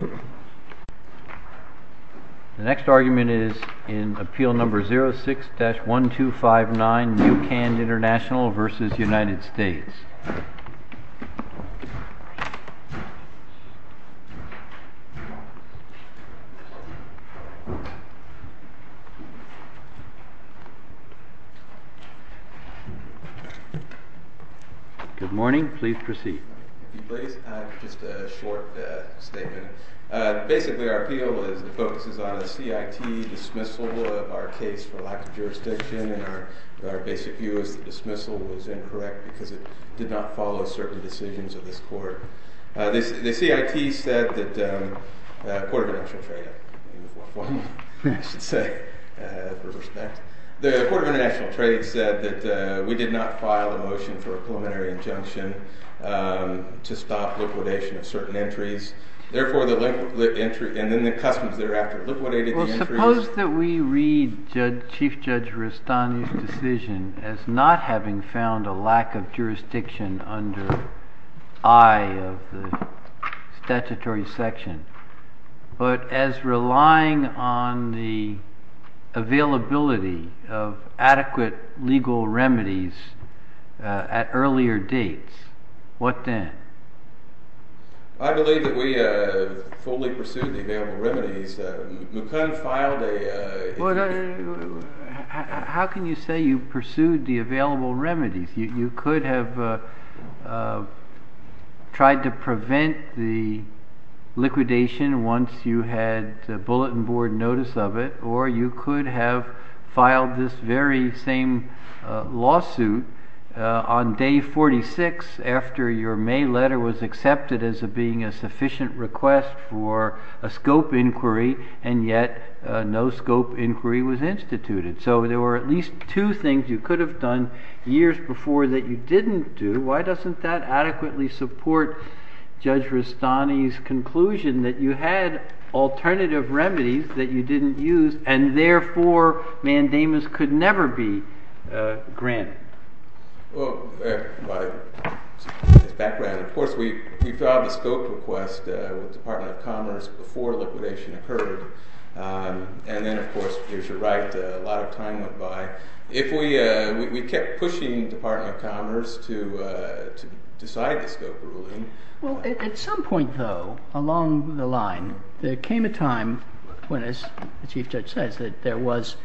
The next argument is in Appeal No. 06-1259, Newcand Intl v. United States. Good morning, please proceed. Just a short statement. Basically, our appeal focuses on the CIT dismissal of our case for lack of jurisdiction, and our basic view is that the dismissal was incorrect because it did not follow certain decisions of this court. The CIT said that the Court of International Trade said that we did not file a motion for a preliminary injunction to stop liquidation of certain entries, and then the customs thereafter liquidated the entries. Suppose that we read Chief Judge Rustani's decision as not having found a lack of jurisdiction under I of the statutory section, but as relying on the availability of adequate legal remedies at earlier dates. What then? I believe that we fully pursued the available remedies. Newcand filed a... The letter was accepted as being a sufficient request for a scope inquiry, and yet no scope inquiry was instituted. So there were at least two things you could have done years before that you didn't do. Why doesn't that adequately support Judge Rustani's conclusion that you had alternative remedies that you didn't use, and therefore mandamus could never be granted? Well, by his background, of course, we filed the scope request with the Department of Commerce before liquidation occurred. And then, of course, there's your right, a lot of time went by. If we kept pushing the Department of Commerce to decide the scope ruling... Well, at some point, though, along the line, there came a time when, as the Chief Judge says, that there was...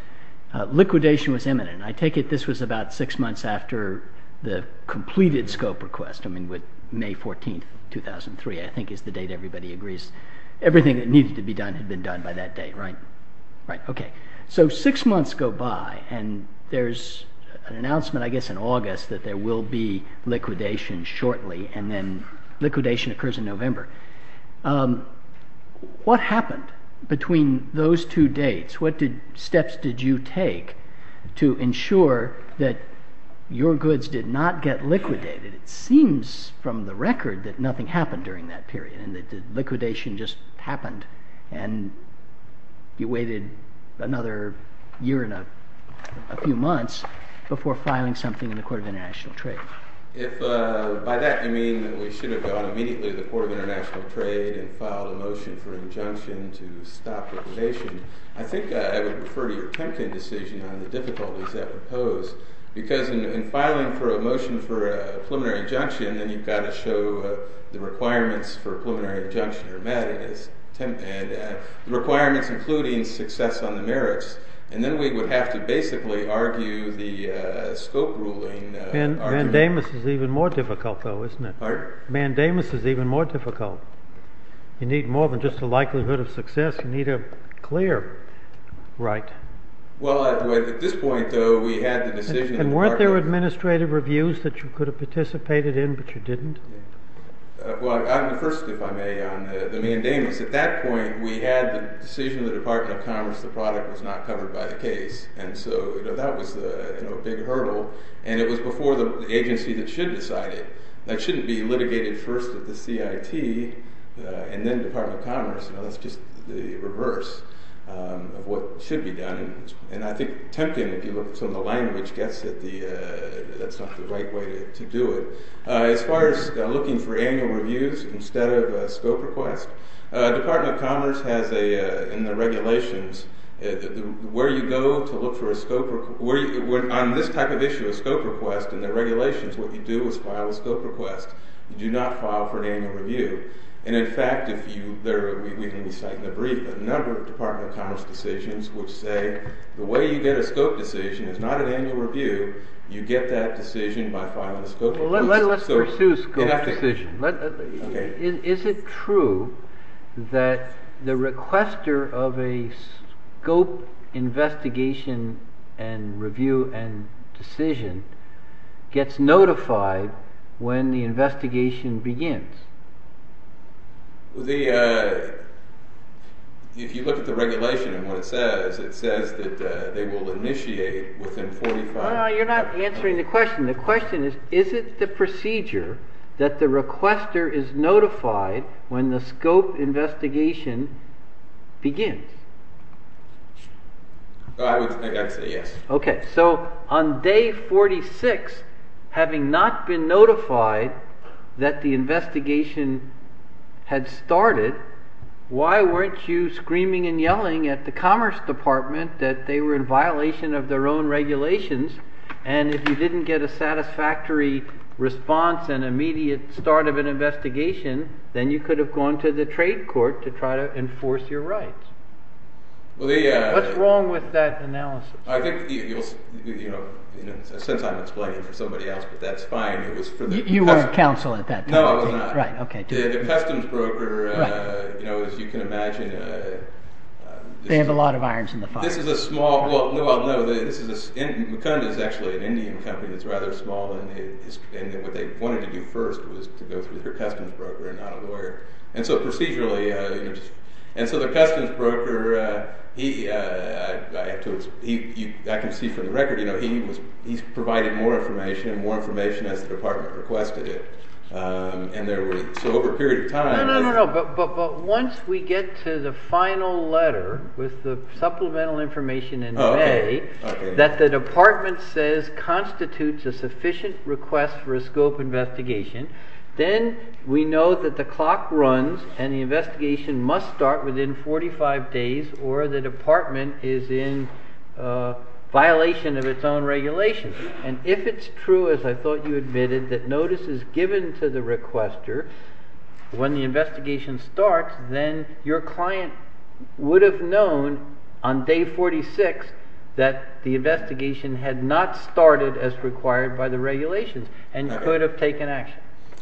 liquidation was imminent. I take it this was about six months after the completed scope request, I mean, with May 14, 2003, I think is the date everybody agrees. Everything that needed to be done had been done by that date, right? Right, okay. So six months go by, and there's an announcement, I guess, in August that there will be liquidation shortly, and then liquidation occurs in November. What happened between those two dates? What steps did you take to ensure that your goods did not get liquidated? It seems from the record that nothing happened during that period, and that the liquidation just happened, and you waited another year and a few months before filing something in the Court of International Trade. If by that you mean that we should have gone immediately to the Court of International Trade and filed a motion for injunction to stop liquidation, I think I would refer to your Temkin decision on the difficulties that would pose, because in filing for a motion for a preliminary injunction, then you've got to show the requirements for a preliminary injunction are met, and the requirements including success on the merits. And then we would have to basically argue the scope ruling. Mandamus is even more difficult, though, isn't it? Pardon? Mandamus is even more difficult. You need more than just a likelihood of success. You need a clear right. Well, at this point, though, we had the decision of the Department of Commerce. And weren't there administrative reviews that you could have participated in, but you didn't? Well, first, if I may, on the mandamus, at that point, we had the decision of the Department of Commerce. The product was not covered by the case. And so that was a big hurdle. And it was before the agency that should decide it. That shouldn't be litigated first at the CIT and then Department of Commerce. That's just the reverse of what should be done. And I think Temkin, if you look at some of the language, gets that that's not the right way to do it. As far as looking for annual reviews instead of a scope request, Department of Commerce has, in the regulations, where you go to look for a scope request. On this type of issue, a scope request, in the regulations, what you do is file a scope request. You do not file for an annual review. And, in fact, we can cite in the brief a number of Department of Commerce decisions which say the way you get a scope decision is not an annual review. You get that decision by filing a scope request. Let's pursue scope decision. Is it true that the requester of a scope investigation and review and decision gets notified when the investigation begins? If you look at the regulation and what it says, it says that they will initiate within 45 days. No, you're not answering the question. The question is, is it the procedure that the requester is notified when the scope investigation begins? I would say yes. Okay, so on day 46, having not been notified that the investigation had started, why weren't you screaming and yelling at the Commerce Department that they were in violation of their own regulations? And if you didn't get a satisfactory response and immediate start of an investigation, then you could have gone to the trade court to try to enforce your rights. What's wrong with that analysis? Since I'm explaining for somebody else, but that's fine. You weren't counsel at that time. No, I was not. The customs broker, as you can imagine… They have a lot of irons in the fire. This is a small – well, no, this is a – Mukunda is actually an Indian company that's rather small, and what they wanted to do first was to go through their customs broker and not a lawyer. And so procedurally – and so the customs broker, I can see from the record, he's provided more information and more information as the department requested it. And there was – so over a period of time… No, no, no, but once we get to the final letter with the supplemental information in May that the department says constitutes a sufficient request for a scope investigation, then we know that the clock runs and the investigation must start within 45 days or the department is in violation of its own regulations. And if it's true, as I thought you admitted, that notice is given to the requester when the investigation starts, then your client would have known on day 46 that the investigation had not started as required by the regulations and could have taken action.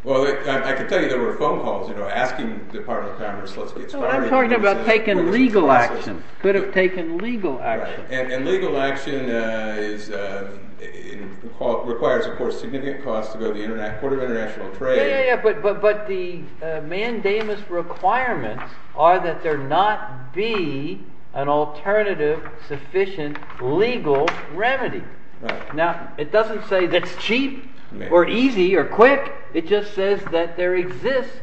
Well, I can tell you there were phone calls asking the Department of Commerce, let's get started. I'm talking about taking legal action, could have taken legal action. And legal action requires, of course, significant costs to go to the Court of International Trade. Yeah, but the mandamus requirements are that there not be an alternative sufficient legal remedy. Now, it doesn't say that's cheap or easy or quick, it just says that there exists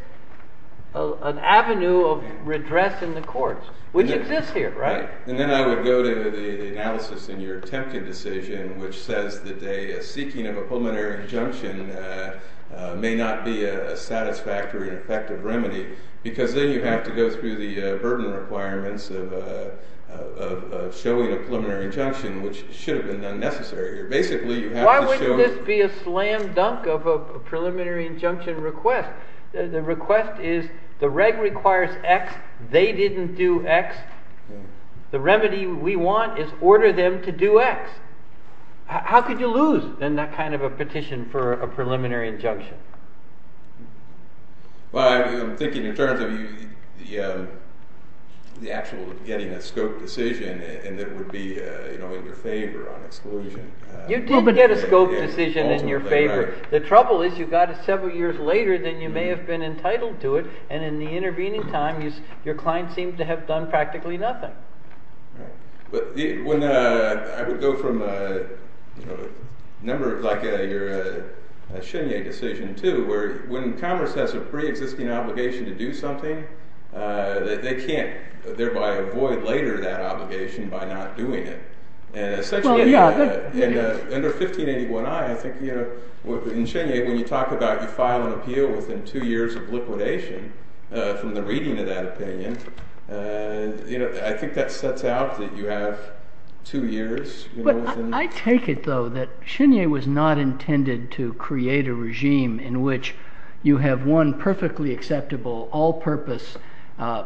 an avenue of redress in the courts, which exists here, right? And then I would go to the analysis in your Temkin decision, which says that a seeking of a preliminary injunction may not be a satisfactory and effective remedy, because then you have to go through the burden requirements of showing a preliminary injunction, which should have been unnecessary. Why wouldn't this be a slam dunk of a preliminary injunction request? The request is the reg requires X, they didn't do X, the remedy we want is order them to do X. How could you lose, then, that kind of a petition for a preliminary injunction? Well, I'm thinking in terms of the actual getting a scope decision, and it would be in your favor on exclusion. You did get a scope decision in your favor. The trouble is you got it several years later than you may have been entitled to it, and in the intervening time, your client seemed to have done practically nothing. But I would go from a number – like your Chenier decision, too, where when commerce has a pre-existing obligation to do something, they can't thereby avoid later that obligation by not doing it. Essentially, under 1581i, I think in Chenier, when you talk about you file an appeal within two years of liquidation from the reading of that opinion, I think that sets out that you have two years. But I take it, though, that Chenier was not intended to create a regime in which you have one perfectly acceptable, all-purpose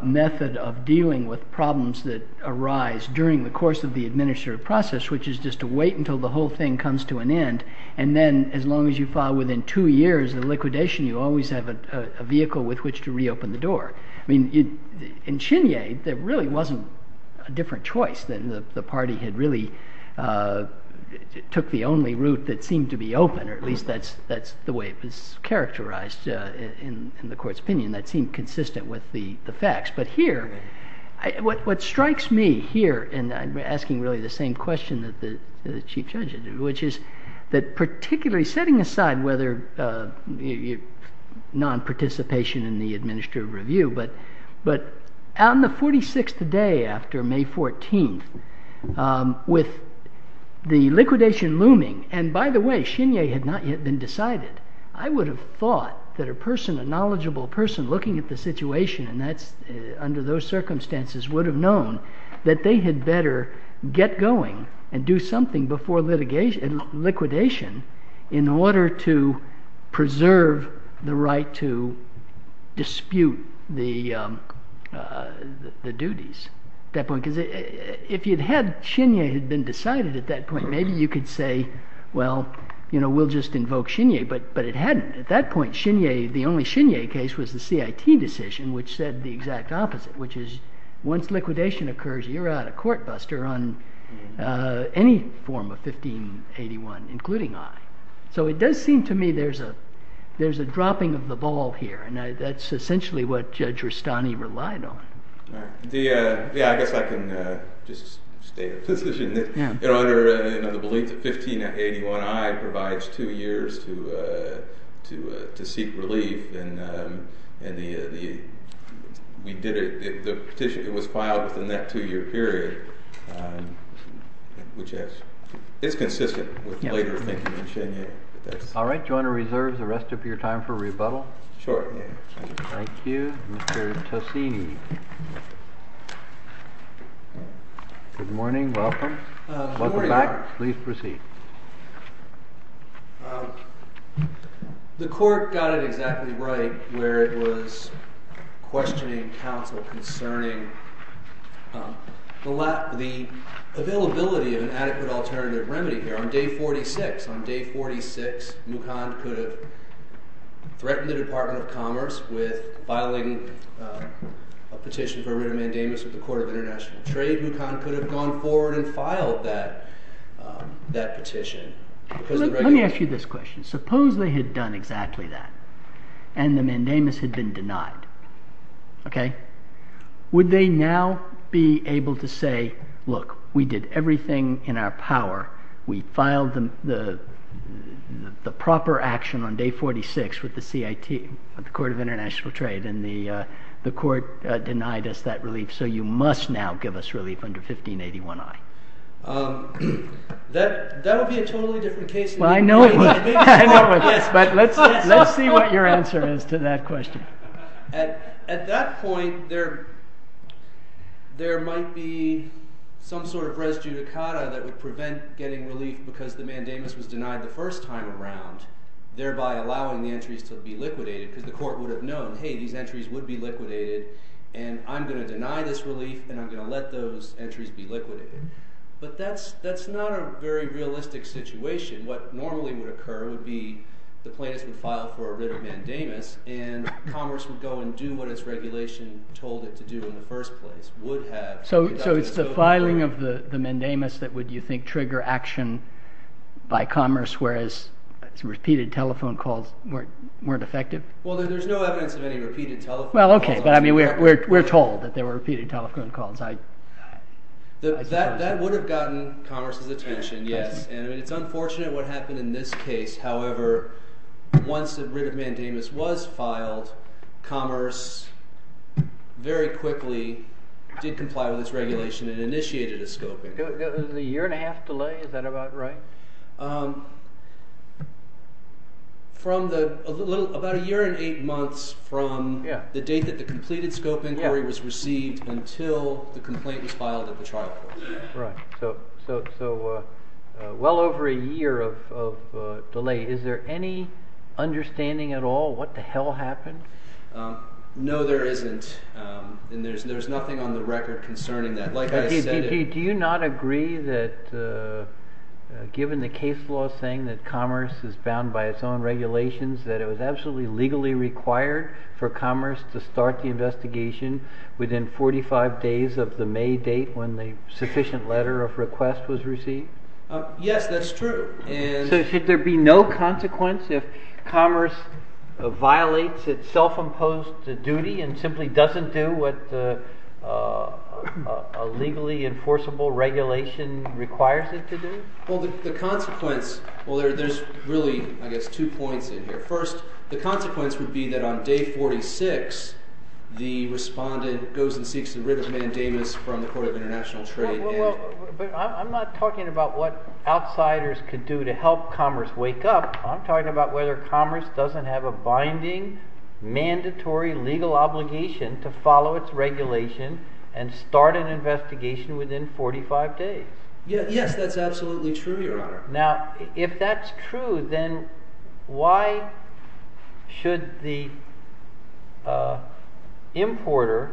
method of dealing with problems that arise during the course of the administrative process, which is just to wait until the whole thing comes to an end, and then as long as you file within two years of liquidation, you always have a vehicle with which to reopen the door. I mean, in Chenier, there really wasn't a different choice. The party had really took the only route that seemed to be open, or at least that's the way it was characterized in the court's opinion. That seemed consistent with the facts. But here, what strikes me here, and I'm asking really the same question that the Chief Judge is, which is that particularly setting aside whether non-participation in the administrative review, but on the 46th day after May 14th, with the liquidation looming – and by the way, Chenier had not yet been decided. I would have thought that a knowledgeable person looking at the situation under those circumstances would have known that they had better get going and do something before liquidation in order to preserve the right to dispute the duties. If Chenier had been decided at that point, maybe you could say, well, we'll just invoke Chenier, but it hadn't. At that point, the only Chenier case was the CIT decision, which said the exact opposite, which is once liquidation occurs, you're out a court buster on any form of 1581, including I. So it does seem to me there's a dropping of the ball here, and that's essentially what Judge Rustani relied on. Yeah, I guess I can just state a position that under the belief that 1581I provides two years to seek relief, and we did it. The petition, it was filed within that two-year period, which is consistent with later thinking in Chenier. All right. Do you want to reserve the rest of your time for rebuttal? Sure. Thank you. Mr. Tosini. Good morning. Welcome. Welcome back. Please proceed. The court got it exactly right where it was questioning counsel concerning the availability of an adequate alternative remedy here. On day 46, Mukand could have threatened the Department of Commerce with filing a petition for a writ of mandamus with the Court of International Trade. Mukand could have gone forward and filed that petition. Let me ask you this question. Suppose they had done exactly that, and the mandamus had been denied. Would they now be able to say, look, we did everything in our power, we filed the proper action on day 46 with the CIT, the Court of International Trade, and the court denied us that relief, so you must now give us relief under 1581I? That would be a totally different case. I know it would, but let's see what your answer is to that question. At that point, there might be some sort of res judicata that would prevent getting relief because the mandamus was denied the first time around, thereby allowing the entries to be liquidated because the court would have known, hey, these entries would be liquidated, and I'm going to deny this relief, and I'm going to let those entries be liquidated. But that's not a very realistic situation. What normally would occur would be the plaintiffs would file for a writ of mandamus, and Commerce would go and do what its regulation told it to do in the first place. So it's the filing of the mandamus that would, you think, trigger action by Commerce, whereas repeated telephone calls weren't effective? Well, there's no evidence of any repeated telephone calls. Well, okay, but we're told that there were repeated telephone calls. That would have gotten Commerce's attention, yes, and it's unfortunate what happened in this case. However, once the writ of mandamus was filed, Commerce very quickly did comply with its regulation and initiated a scoping. A year and a half delay, is that about right? About a year and eight months from the date that the completed scope inquiry was received until the complaint was filed at the trial court. Right, so well over a year of delay. Is there any understanding at all what the hell happened? No, there isn't, and there's nothing on the record concerning that. Do you not agree that given the case law saying that Commerce is bound by its own regulations, that it was absolutely legally required for Commerce to start the investigation within 45 days of the May date when the sufficient letter of request was received? Yes, that's true. So should there be no consequence if Commerce violates its self-imposed duty and simply doesn't do what a legally enforceable regulation requires it to do? Well, the consequence—well, there's really, I guess, two points in here. First, the consequence would be that on day 46, the respondent goes and seeks the writ of mandamus from the Court of International Trade. But I'm not talking about what outsiders could do to help Commerce wake up. I'm talking about whether Commerce doesn't have a binding, mandatory legal obligation to follow its regulation and start an investigation within 45 days. Yes, that's absolutely true, Your Honor. Now, if that's true, then why should the importer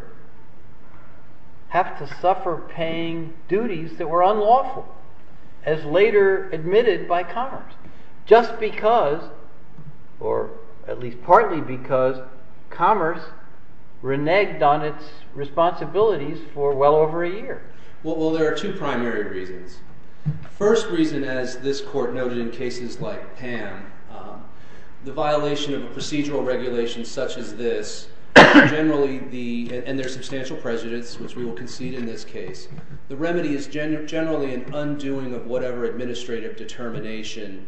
have to suffer paying duties that were unlawful, as later admitted by Commerce, just because—or at least partly because—Commerce reneged on its responsibilities for well over a year? Well, there are two primary reasons. First reason, as this Court noted in cases like Pam, the violation of a procedural regulation such as this, generally the—and there are substantial precedents, which we will concede in this case—the remedy is generally an undoing of whatever administrative determination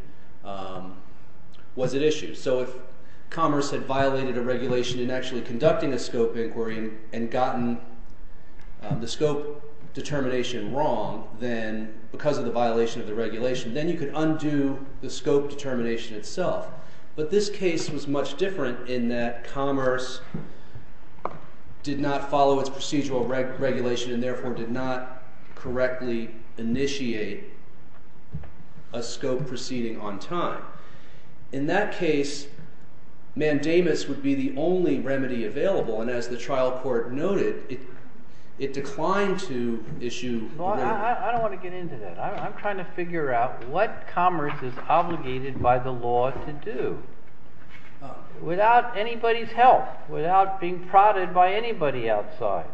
was at issue. So if Commerce had violated a regulation in actually conducting a scope inquiry and gotten the scope determination wrong because of the violation of the regulation, then you could undo the scope determination itself. But this case was much different in that Commerce did not follow its procedural regulation and therefore did not correctly initiate a scope proceeding on time. In that case, mandamus would be the only remedy available, and as the trial court noted, it declined to issue— Well, I don't want to get into that. I'm trying to figure out what Commerce is obligated by the law to do without anybody's help, without being prodded by anybody outside.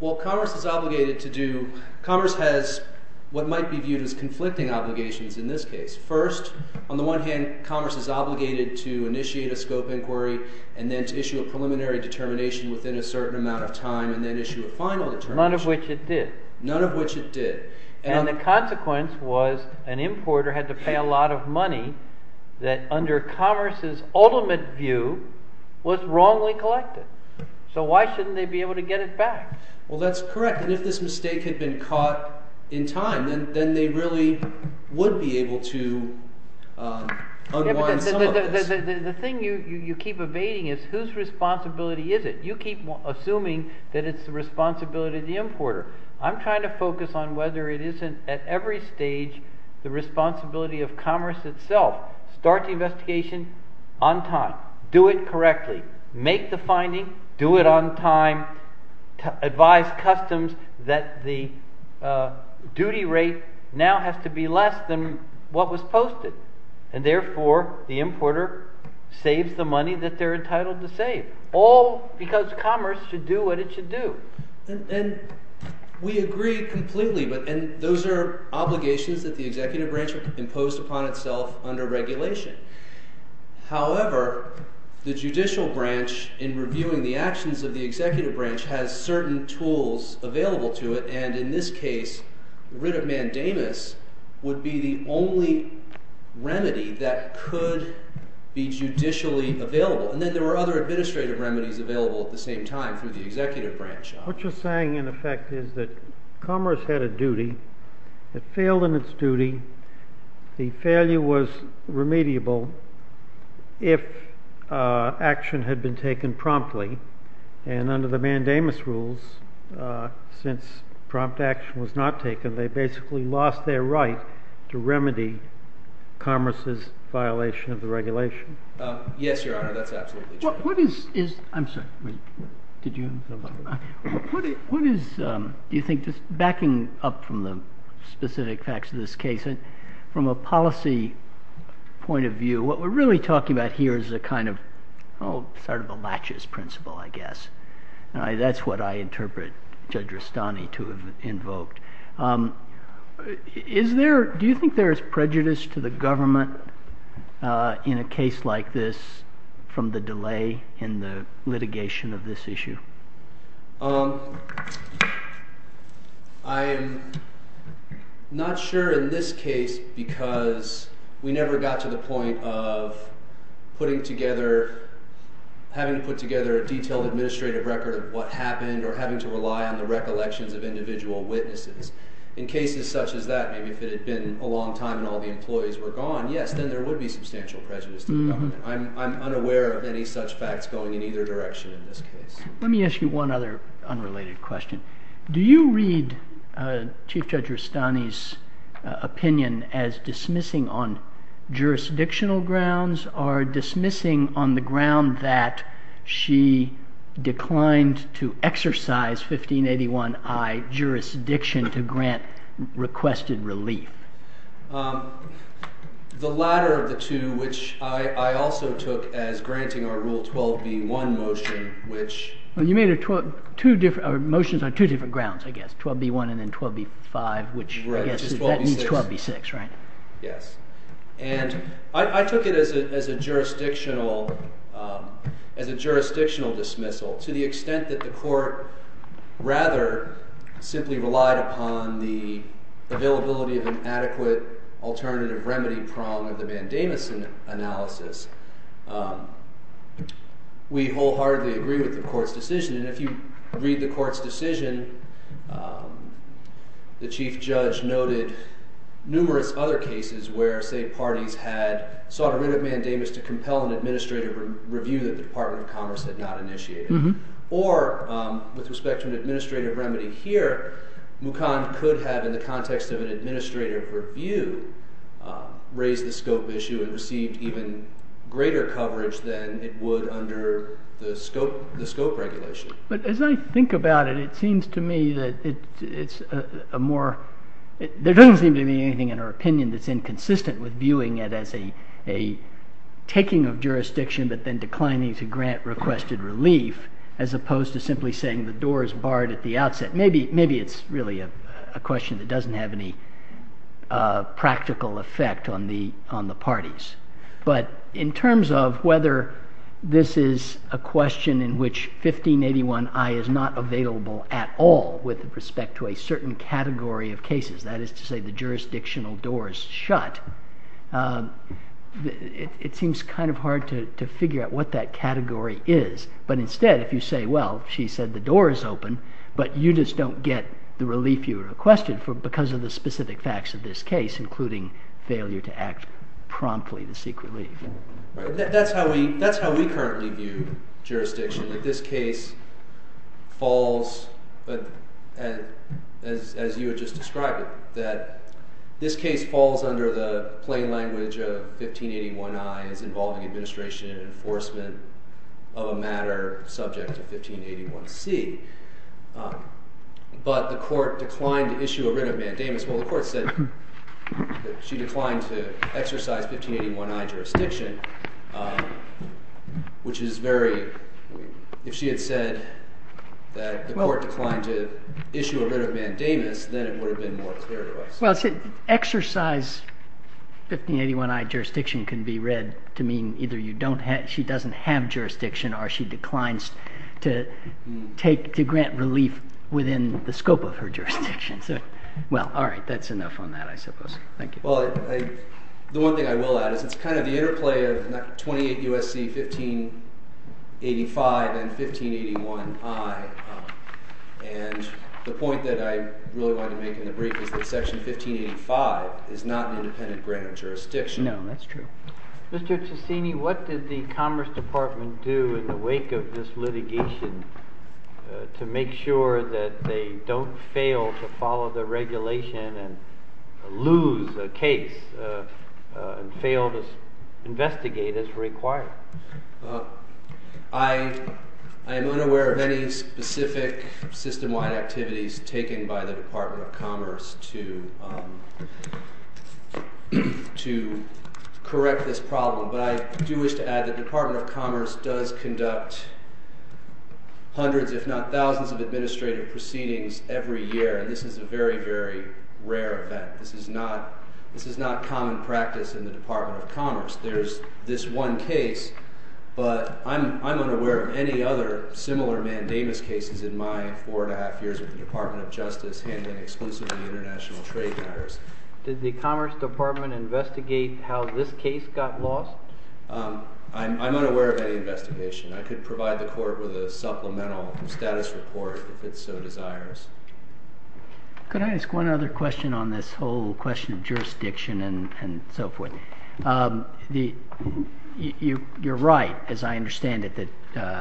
Well, Commerce is obligated to do—Commerce has what might be viewed as conflicting obligations in this case. First, on the one hand, Commerce is obligated to initiate a scope inquiry and then to issue a preliminary determination within a certain amount of time and then issue a final determination. None of which it did. None of which it did. And the consequence was an importer had to pay a lot of money that, under Commerce's ultimate view, was wrongly collected. So why shouldn't they be able to get it back? Well, that's correct. And if this mistake had been caught in time, then they really would be able to unwind some of this. The thing you keep evading is whose responsibility is it? You keep assuming that it's the responsibility of the importer. I'm trying to focus on whether it isn't at every stage the responsibility of Commerce itself. Start the investigation on time. Do it correctly. Make the finding. Do it on time. Advise customs that the duty rate now has to be less than what was posted. And therefore, the importer saves the money that they're entitled to save, all because Commerce should do what it should do. And we agree completely. And those are obligations that the executive branch imposed upon itself under regulation. However, the judicial branch, in reviewing the actions of the executive branch, has certain tools available to it. And in this case, writ of mandamus would be the only remedy that could be judicially available. And then there were other administrative remedies available at the same time through the executive branch. What you're saying, in effect, is that Commerce had a duty. It failed in its duty. The failure was remediable if action had been taken promptly. And under the mandamus rules, since prompt action was not taken, they basically lost their right to remedy Commerce's violation of the regulation. Yes, Your Honor, that's absolutely true. What is, you think, just backing up from the specific facts of this case, from a policy point of view, what we're really talking about here is a kind of, sort of a latches principle, I guess. That's what I interpret Judge Rustani to have invoked. Do you think there is prejudice to the government in a case like this from the delay in the litigation of this issue? I'm not sure in this case because we never got to the point of putting together, having to put together a detailed administrative record of what happened or having to rely on the recollections of individual witnesses. In cases such as that, maybe if it had been a long time and all the employees were gone, yes, then there would be substantial prejudice to the government. I'm unaware of any such facts going in either direction in this case. Let me ask you one other unrelated question. Do you read Chief Judge Rustani's opinion as dismissing on jurisdictional grounds or dismissing on the ground that she declined to exercise 1581I jurisdiction to grant requested relief? The latter of the two, which I also took as granting our Rule 12b1 motion, which… Well, you made motions on two different grounds, I guess, 12b1 and then 12b5, which I guess means 12b6, right? Yes. And I took it as a jurisdictional dismissal to the extent that the court rather simply relied upon the availability of an adequate alternative remedy prong of the Van Damesen analysis. We wholeheartedly agree with the court's decision. And if you read the court's decision, the Chief Judge noted numerous other cases where, say, parties had sought a writ of mandamus to compel an administrative review that the Department of Commerce had not initiated. Or, with respect to an administrative remedy here, Mukon could have, in the context of an administrative review, raised the scope issue and received even greater coverage than it would under the scope regulation. But as I think about it, it seems to me that there doesn't seem to be anything in her opinion that's inconsistent with viewing it as a taking of jurisdiction but then declining to grant requested relief as opposed to simply saying the door is barred at the outset. Maybe it's really a question that doesn't have any practical effect on the parties. But in terms of whether this is a question in which 1581i is not available at all with respect to a certain category of cases, that is to say the jurisdictional door is shut, it seems kind of hard to figure out what that category is. But instead, if you say, well, she said the door is open, but you just don't get the relief you requested because of the specific facts of this case, including failure to act promptly to seek relief. That's how we currently view jurisdiction. That this case falls, as you had just described it, that this case falls under the plain language of 1581i as involving administration and enforcement of a matter subject to 1581c. But the court declined to issue a writ of mandamus. Well, the court said that she declined to exercise 1581i jurisdiction, which is very, if she had said that the court declined to issue a writ of mandamus, then it would have been more clear to us. Well, exercise 1581i jurisdiction can be read to mean either she doesn't have jurisdiction or she declines to grant relief within the scope of her jurisdiction. Well, all right, that's enough on that, I suppose. Thank you. Well, the one thing I will add is it's kind of the interplay of 28 U.S.C. 1585 and 1581i. And the point that I really wanted to make in the brief is that Section 1585 is not an independent grant of jurisdiction. No, that's true. Mr. Ciccini, what did the Commerce Department do in the wake of this litigation to make sure that they don't fail to follow the regulation and lose a case and fail to investigate as required? I am unaware of any specific system-wide activities taken by the Department of Commerce to correct this problem. But I do wish to add that the Department of Commerce does conduct hundreds, if not thousands, of administrative proceedings every year, and this is a very, very rare event. This is not common practice in the Department of Commerce. There's this one case, but I'm unaware of any other similar mandamus cases in my four and a half years at the Department of Justice handling exclusively international trade matters. Did the Commerce Department investigate how this case got lost? I'm unaware of any investigation. I could provide the Court with a supplemental status report if it so desires. Could I ask one other question on this whole question of jurisdiction and so forth? You're right, as I understand it, that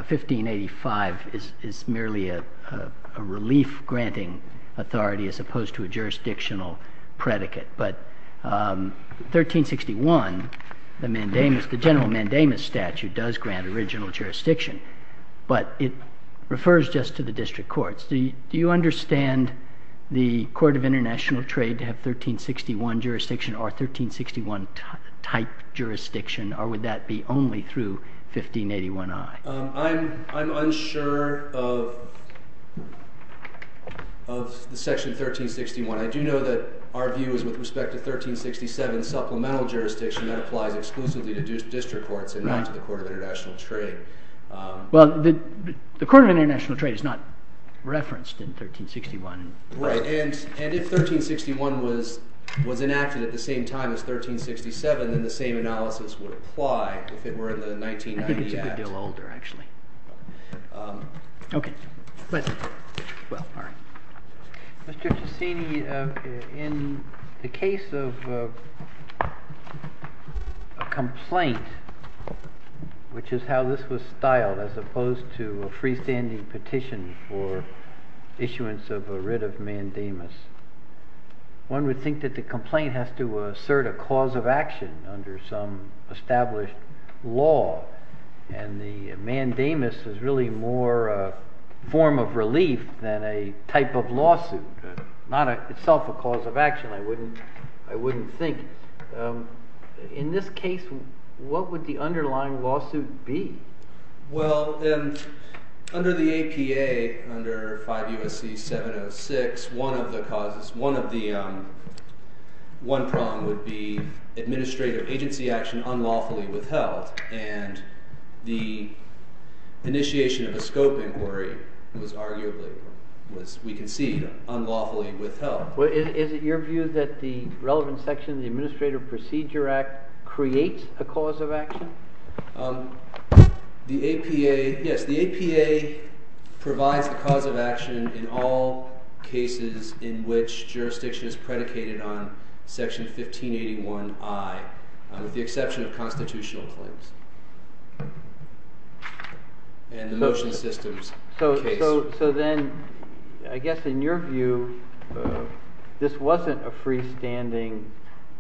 1585 is merely a relief-granting authority as opposed to a jurisdictional predicate. But 1361, the general mandamus statute does grant original jurisdiction, but it refers just to the district courts. Do you understand the Court of International Trade to have 1361 jurisdiction or 1361-type jurisdiction, or would that be only through 1581i? I'm unsure of section 1361. I do know that our view is with respect to 1367 supplemental jurisdiction that applies exclusively to district courts and not to the Court of International Trade. Well, the Court of International Trade is not referenced in 1361. Right, and if 1361 was enacted at the same time as 1367, then the same analysis would apply if it were in the 1990 act. I think it's a good deal older, actually. Okay, go ahead. Mr. Ciacchini, in the case of a complaint, which is how this was styled as opposed to a freestanding petition for issuance of a writ of mandamus, one would think that the complaint has to assert a cause of action under some established law, and the mandamus is really more a form of relief than a type of lawsuit, not itself a cause of action, I wouldn't think. In this case, what would the underlying lawsuit be? Well, under the APA, under 5 U.S.C. 706, one of the causes, one of the one prong would be administrative agency action unlawfully withheld, and the initiation of a scope inquiry was arguably, we concede, unlawfully withheld. Is it your view that the relevant section of the Administrative Procedure Act creates a cause of action? The APA, yes, the APA provides the cause of action in all cases in which jurisdiction is predicated on Section 1581I, with the exception of constitutional claims and the motion systems case. So then, I guess in your view, this wasn't a freestanding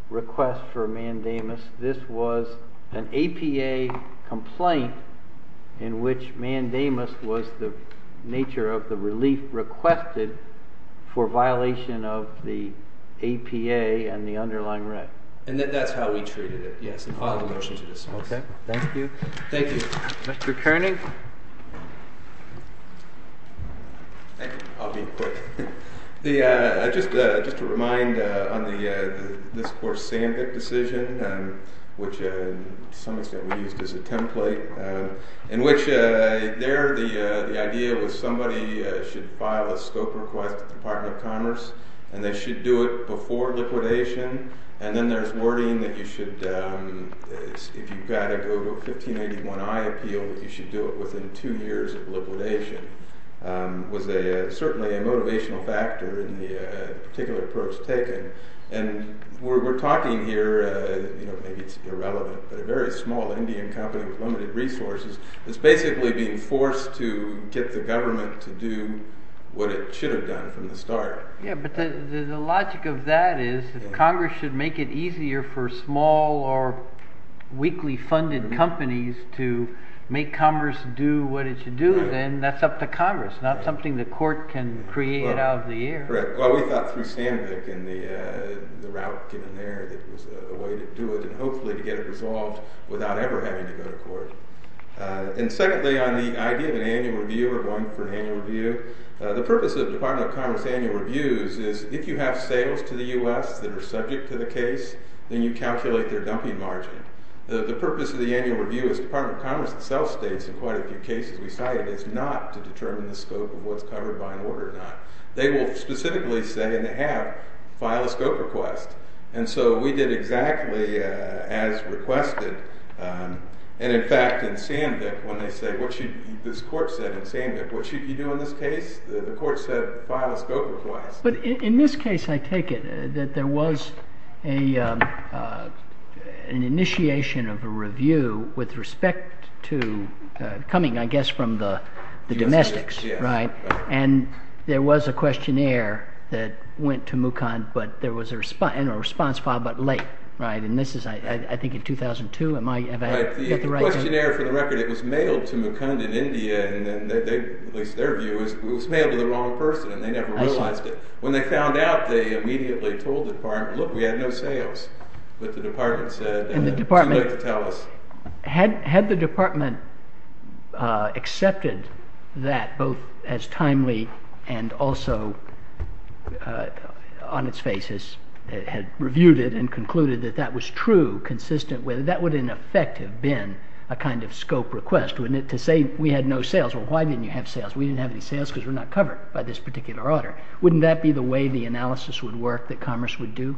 request for mandamus. This was an APA complaint in which mandamus was the nature of the relief requested for violation of the APA and the underlying right. And that's how we treated it, yes, in all the motions of this case. Okay, thank you. Thank you. Mr. Kerning? I'll be quick. Just to remind on this course SAMBIC decision, which to some extent we used as a template, in which there the idea was somebody should file a scope request to the Department of Commerce, and they should do it before liquidation. And then there's wording that you should, if you've got to go to a 1581I appeal, you should do it within two years of liquidation. It was certainly a motivational factor in the particular approach taken. And we're talking here, maybe it's irrelevant, but a very small Indian company with limited resources is basically being forced to get the government to do what it should have done from the start. Yeah, but the logic of that is if Congress should make it easier for small or weakly funded companies to make Commerce do what it should do, then that's up to Congress, not something the court can create out of the air. Correct. Well, we thought through SAMBIC and the route given there that was a way to do it and hopefully to get it resolved without ever having to go to court. And secondly, on the idea of an annual review or going for an annual review, the purpose of the Department of Commerce annual reviews is if you have sales to the U.S. that are subject to the case, then you calculate their dumping margin. The purpose of the annual review, as the Department of Commerce itself states in quite a few cases we cited, is not to determine the scope of what's covered by an order or not. They will specifically say, and they have, file a scope request. And so we did exactly as requested. And in fact, in SAMBIC, when they say, this court said in SAMBIC, what should you do in this case? The court said file a scope request. But in this case, I take it that there was an initiation of a review with respect to coming, I guess, from the domestics. And there was a questionnaire that went to Mukund, but there was a response file, but late. And this is, I think, in 2002. The questionnaire, for the record, it was mailed to Mukund in India. At least their view is it was mailed to the wrong person, and they never realized it. When they found out, they immediately told the department, look, we had no sales. But the department said, too late to tell us. Had the department accepted that, both as timely and also on its face, had reviewed it and concluded that that was true, consistent with it, that would in effect have been a kind of scope request. To say we had no sales. Well, why didn't you have sales? We didn't have any sales because we're not covered by this particular order. Wouldn't that be the way the analysis would work that Commerce would do?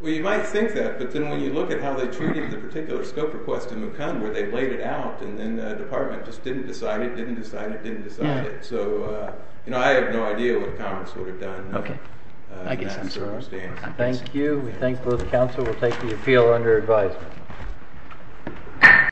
Well, you might think that, but then when you look at how they treated the particular scope request in Mukund, where they laid it out and then the department just didn't decide it, didn't decide it, didn't decide it. So I have no idea what Commerce would have done in that circumstance. Thank you. We thank both the counsel. We'll take the appeal under advisement.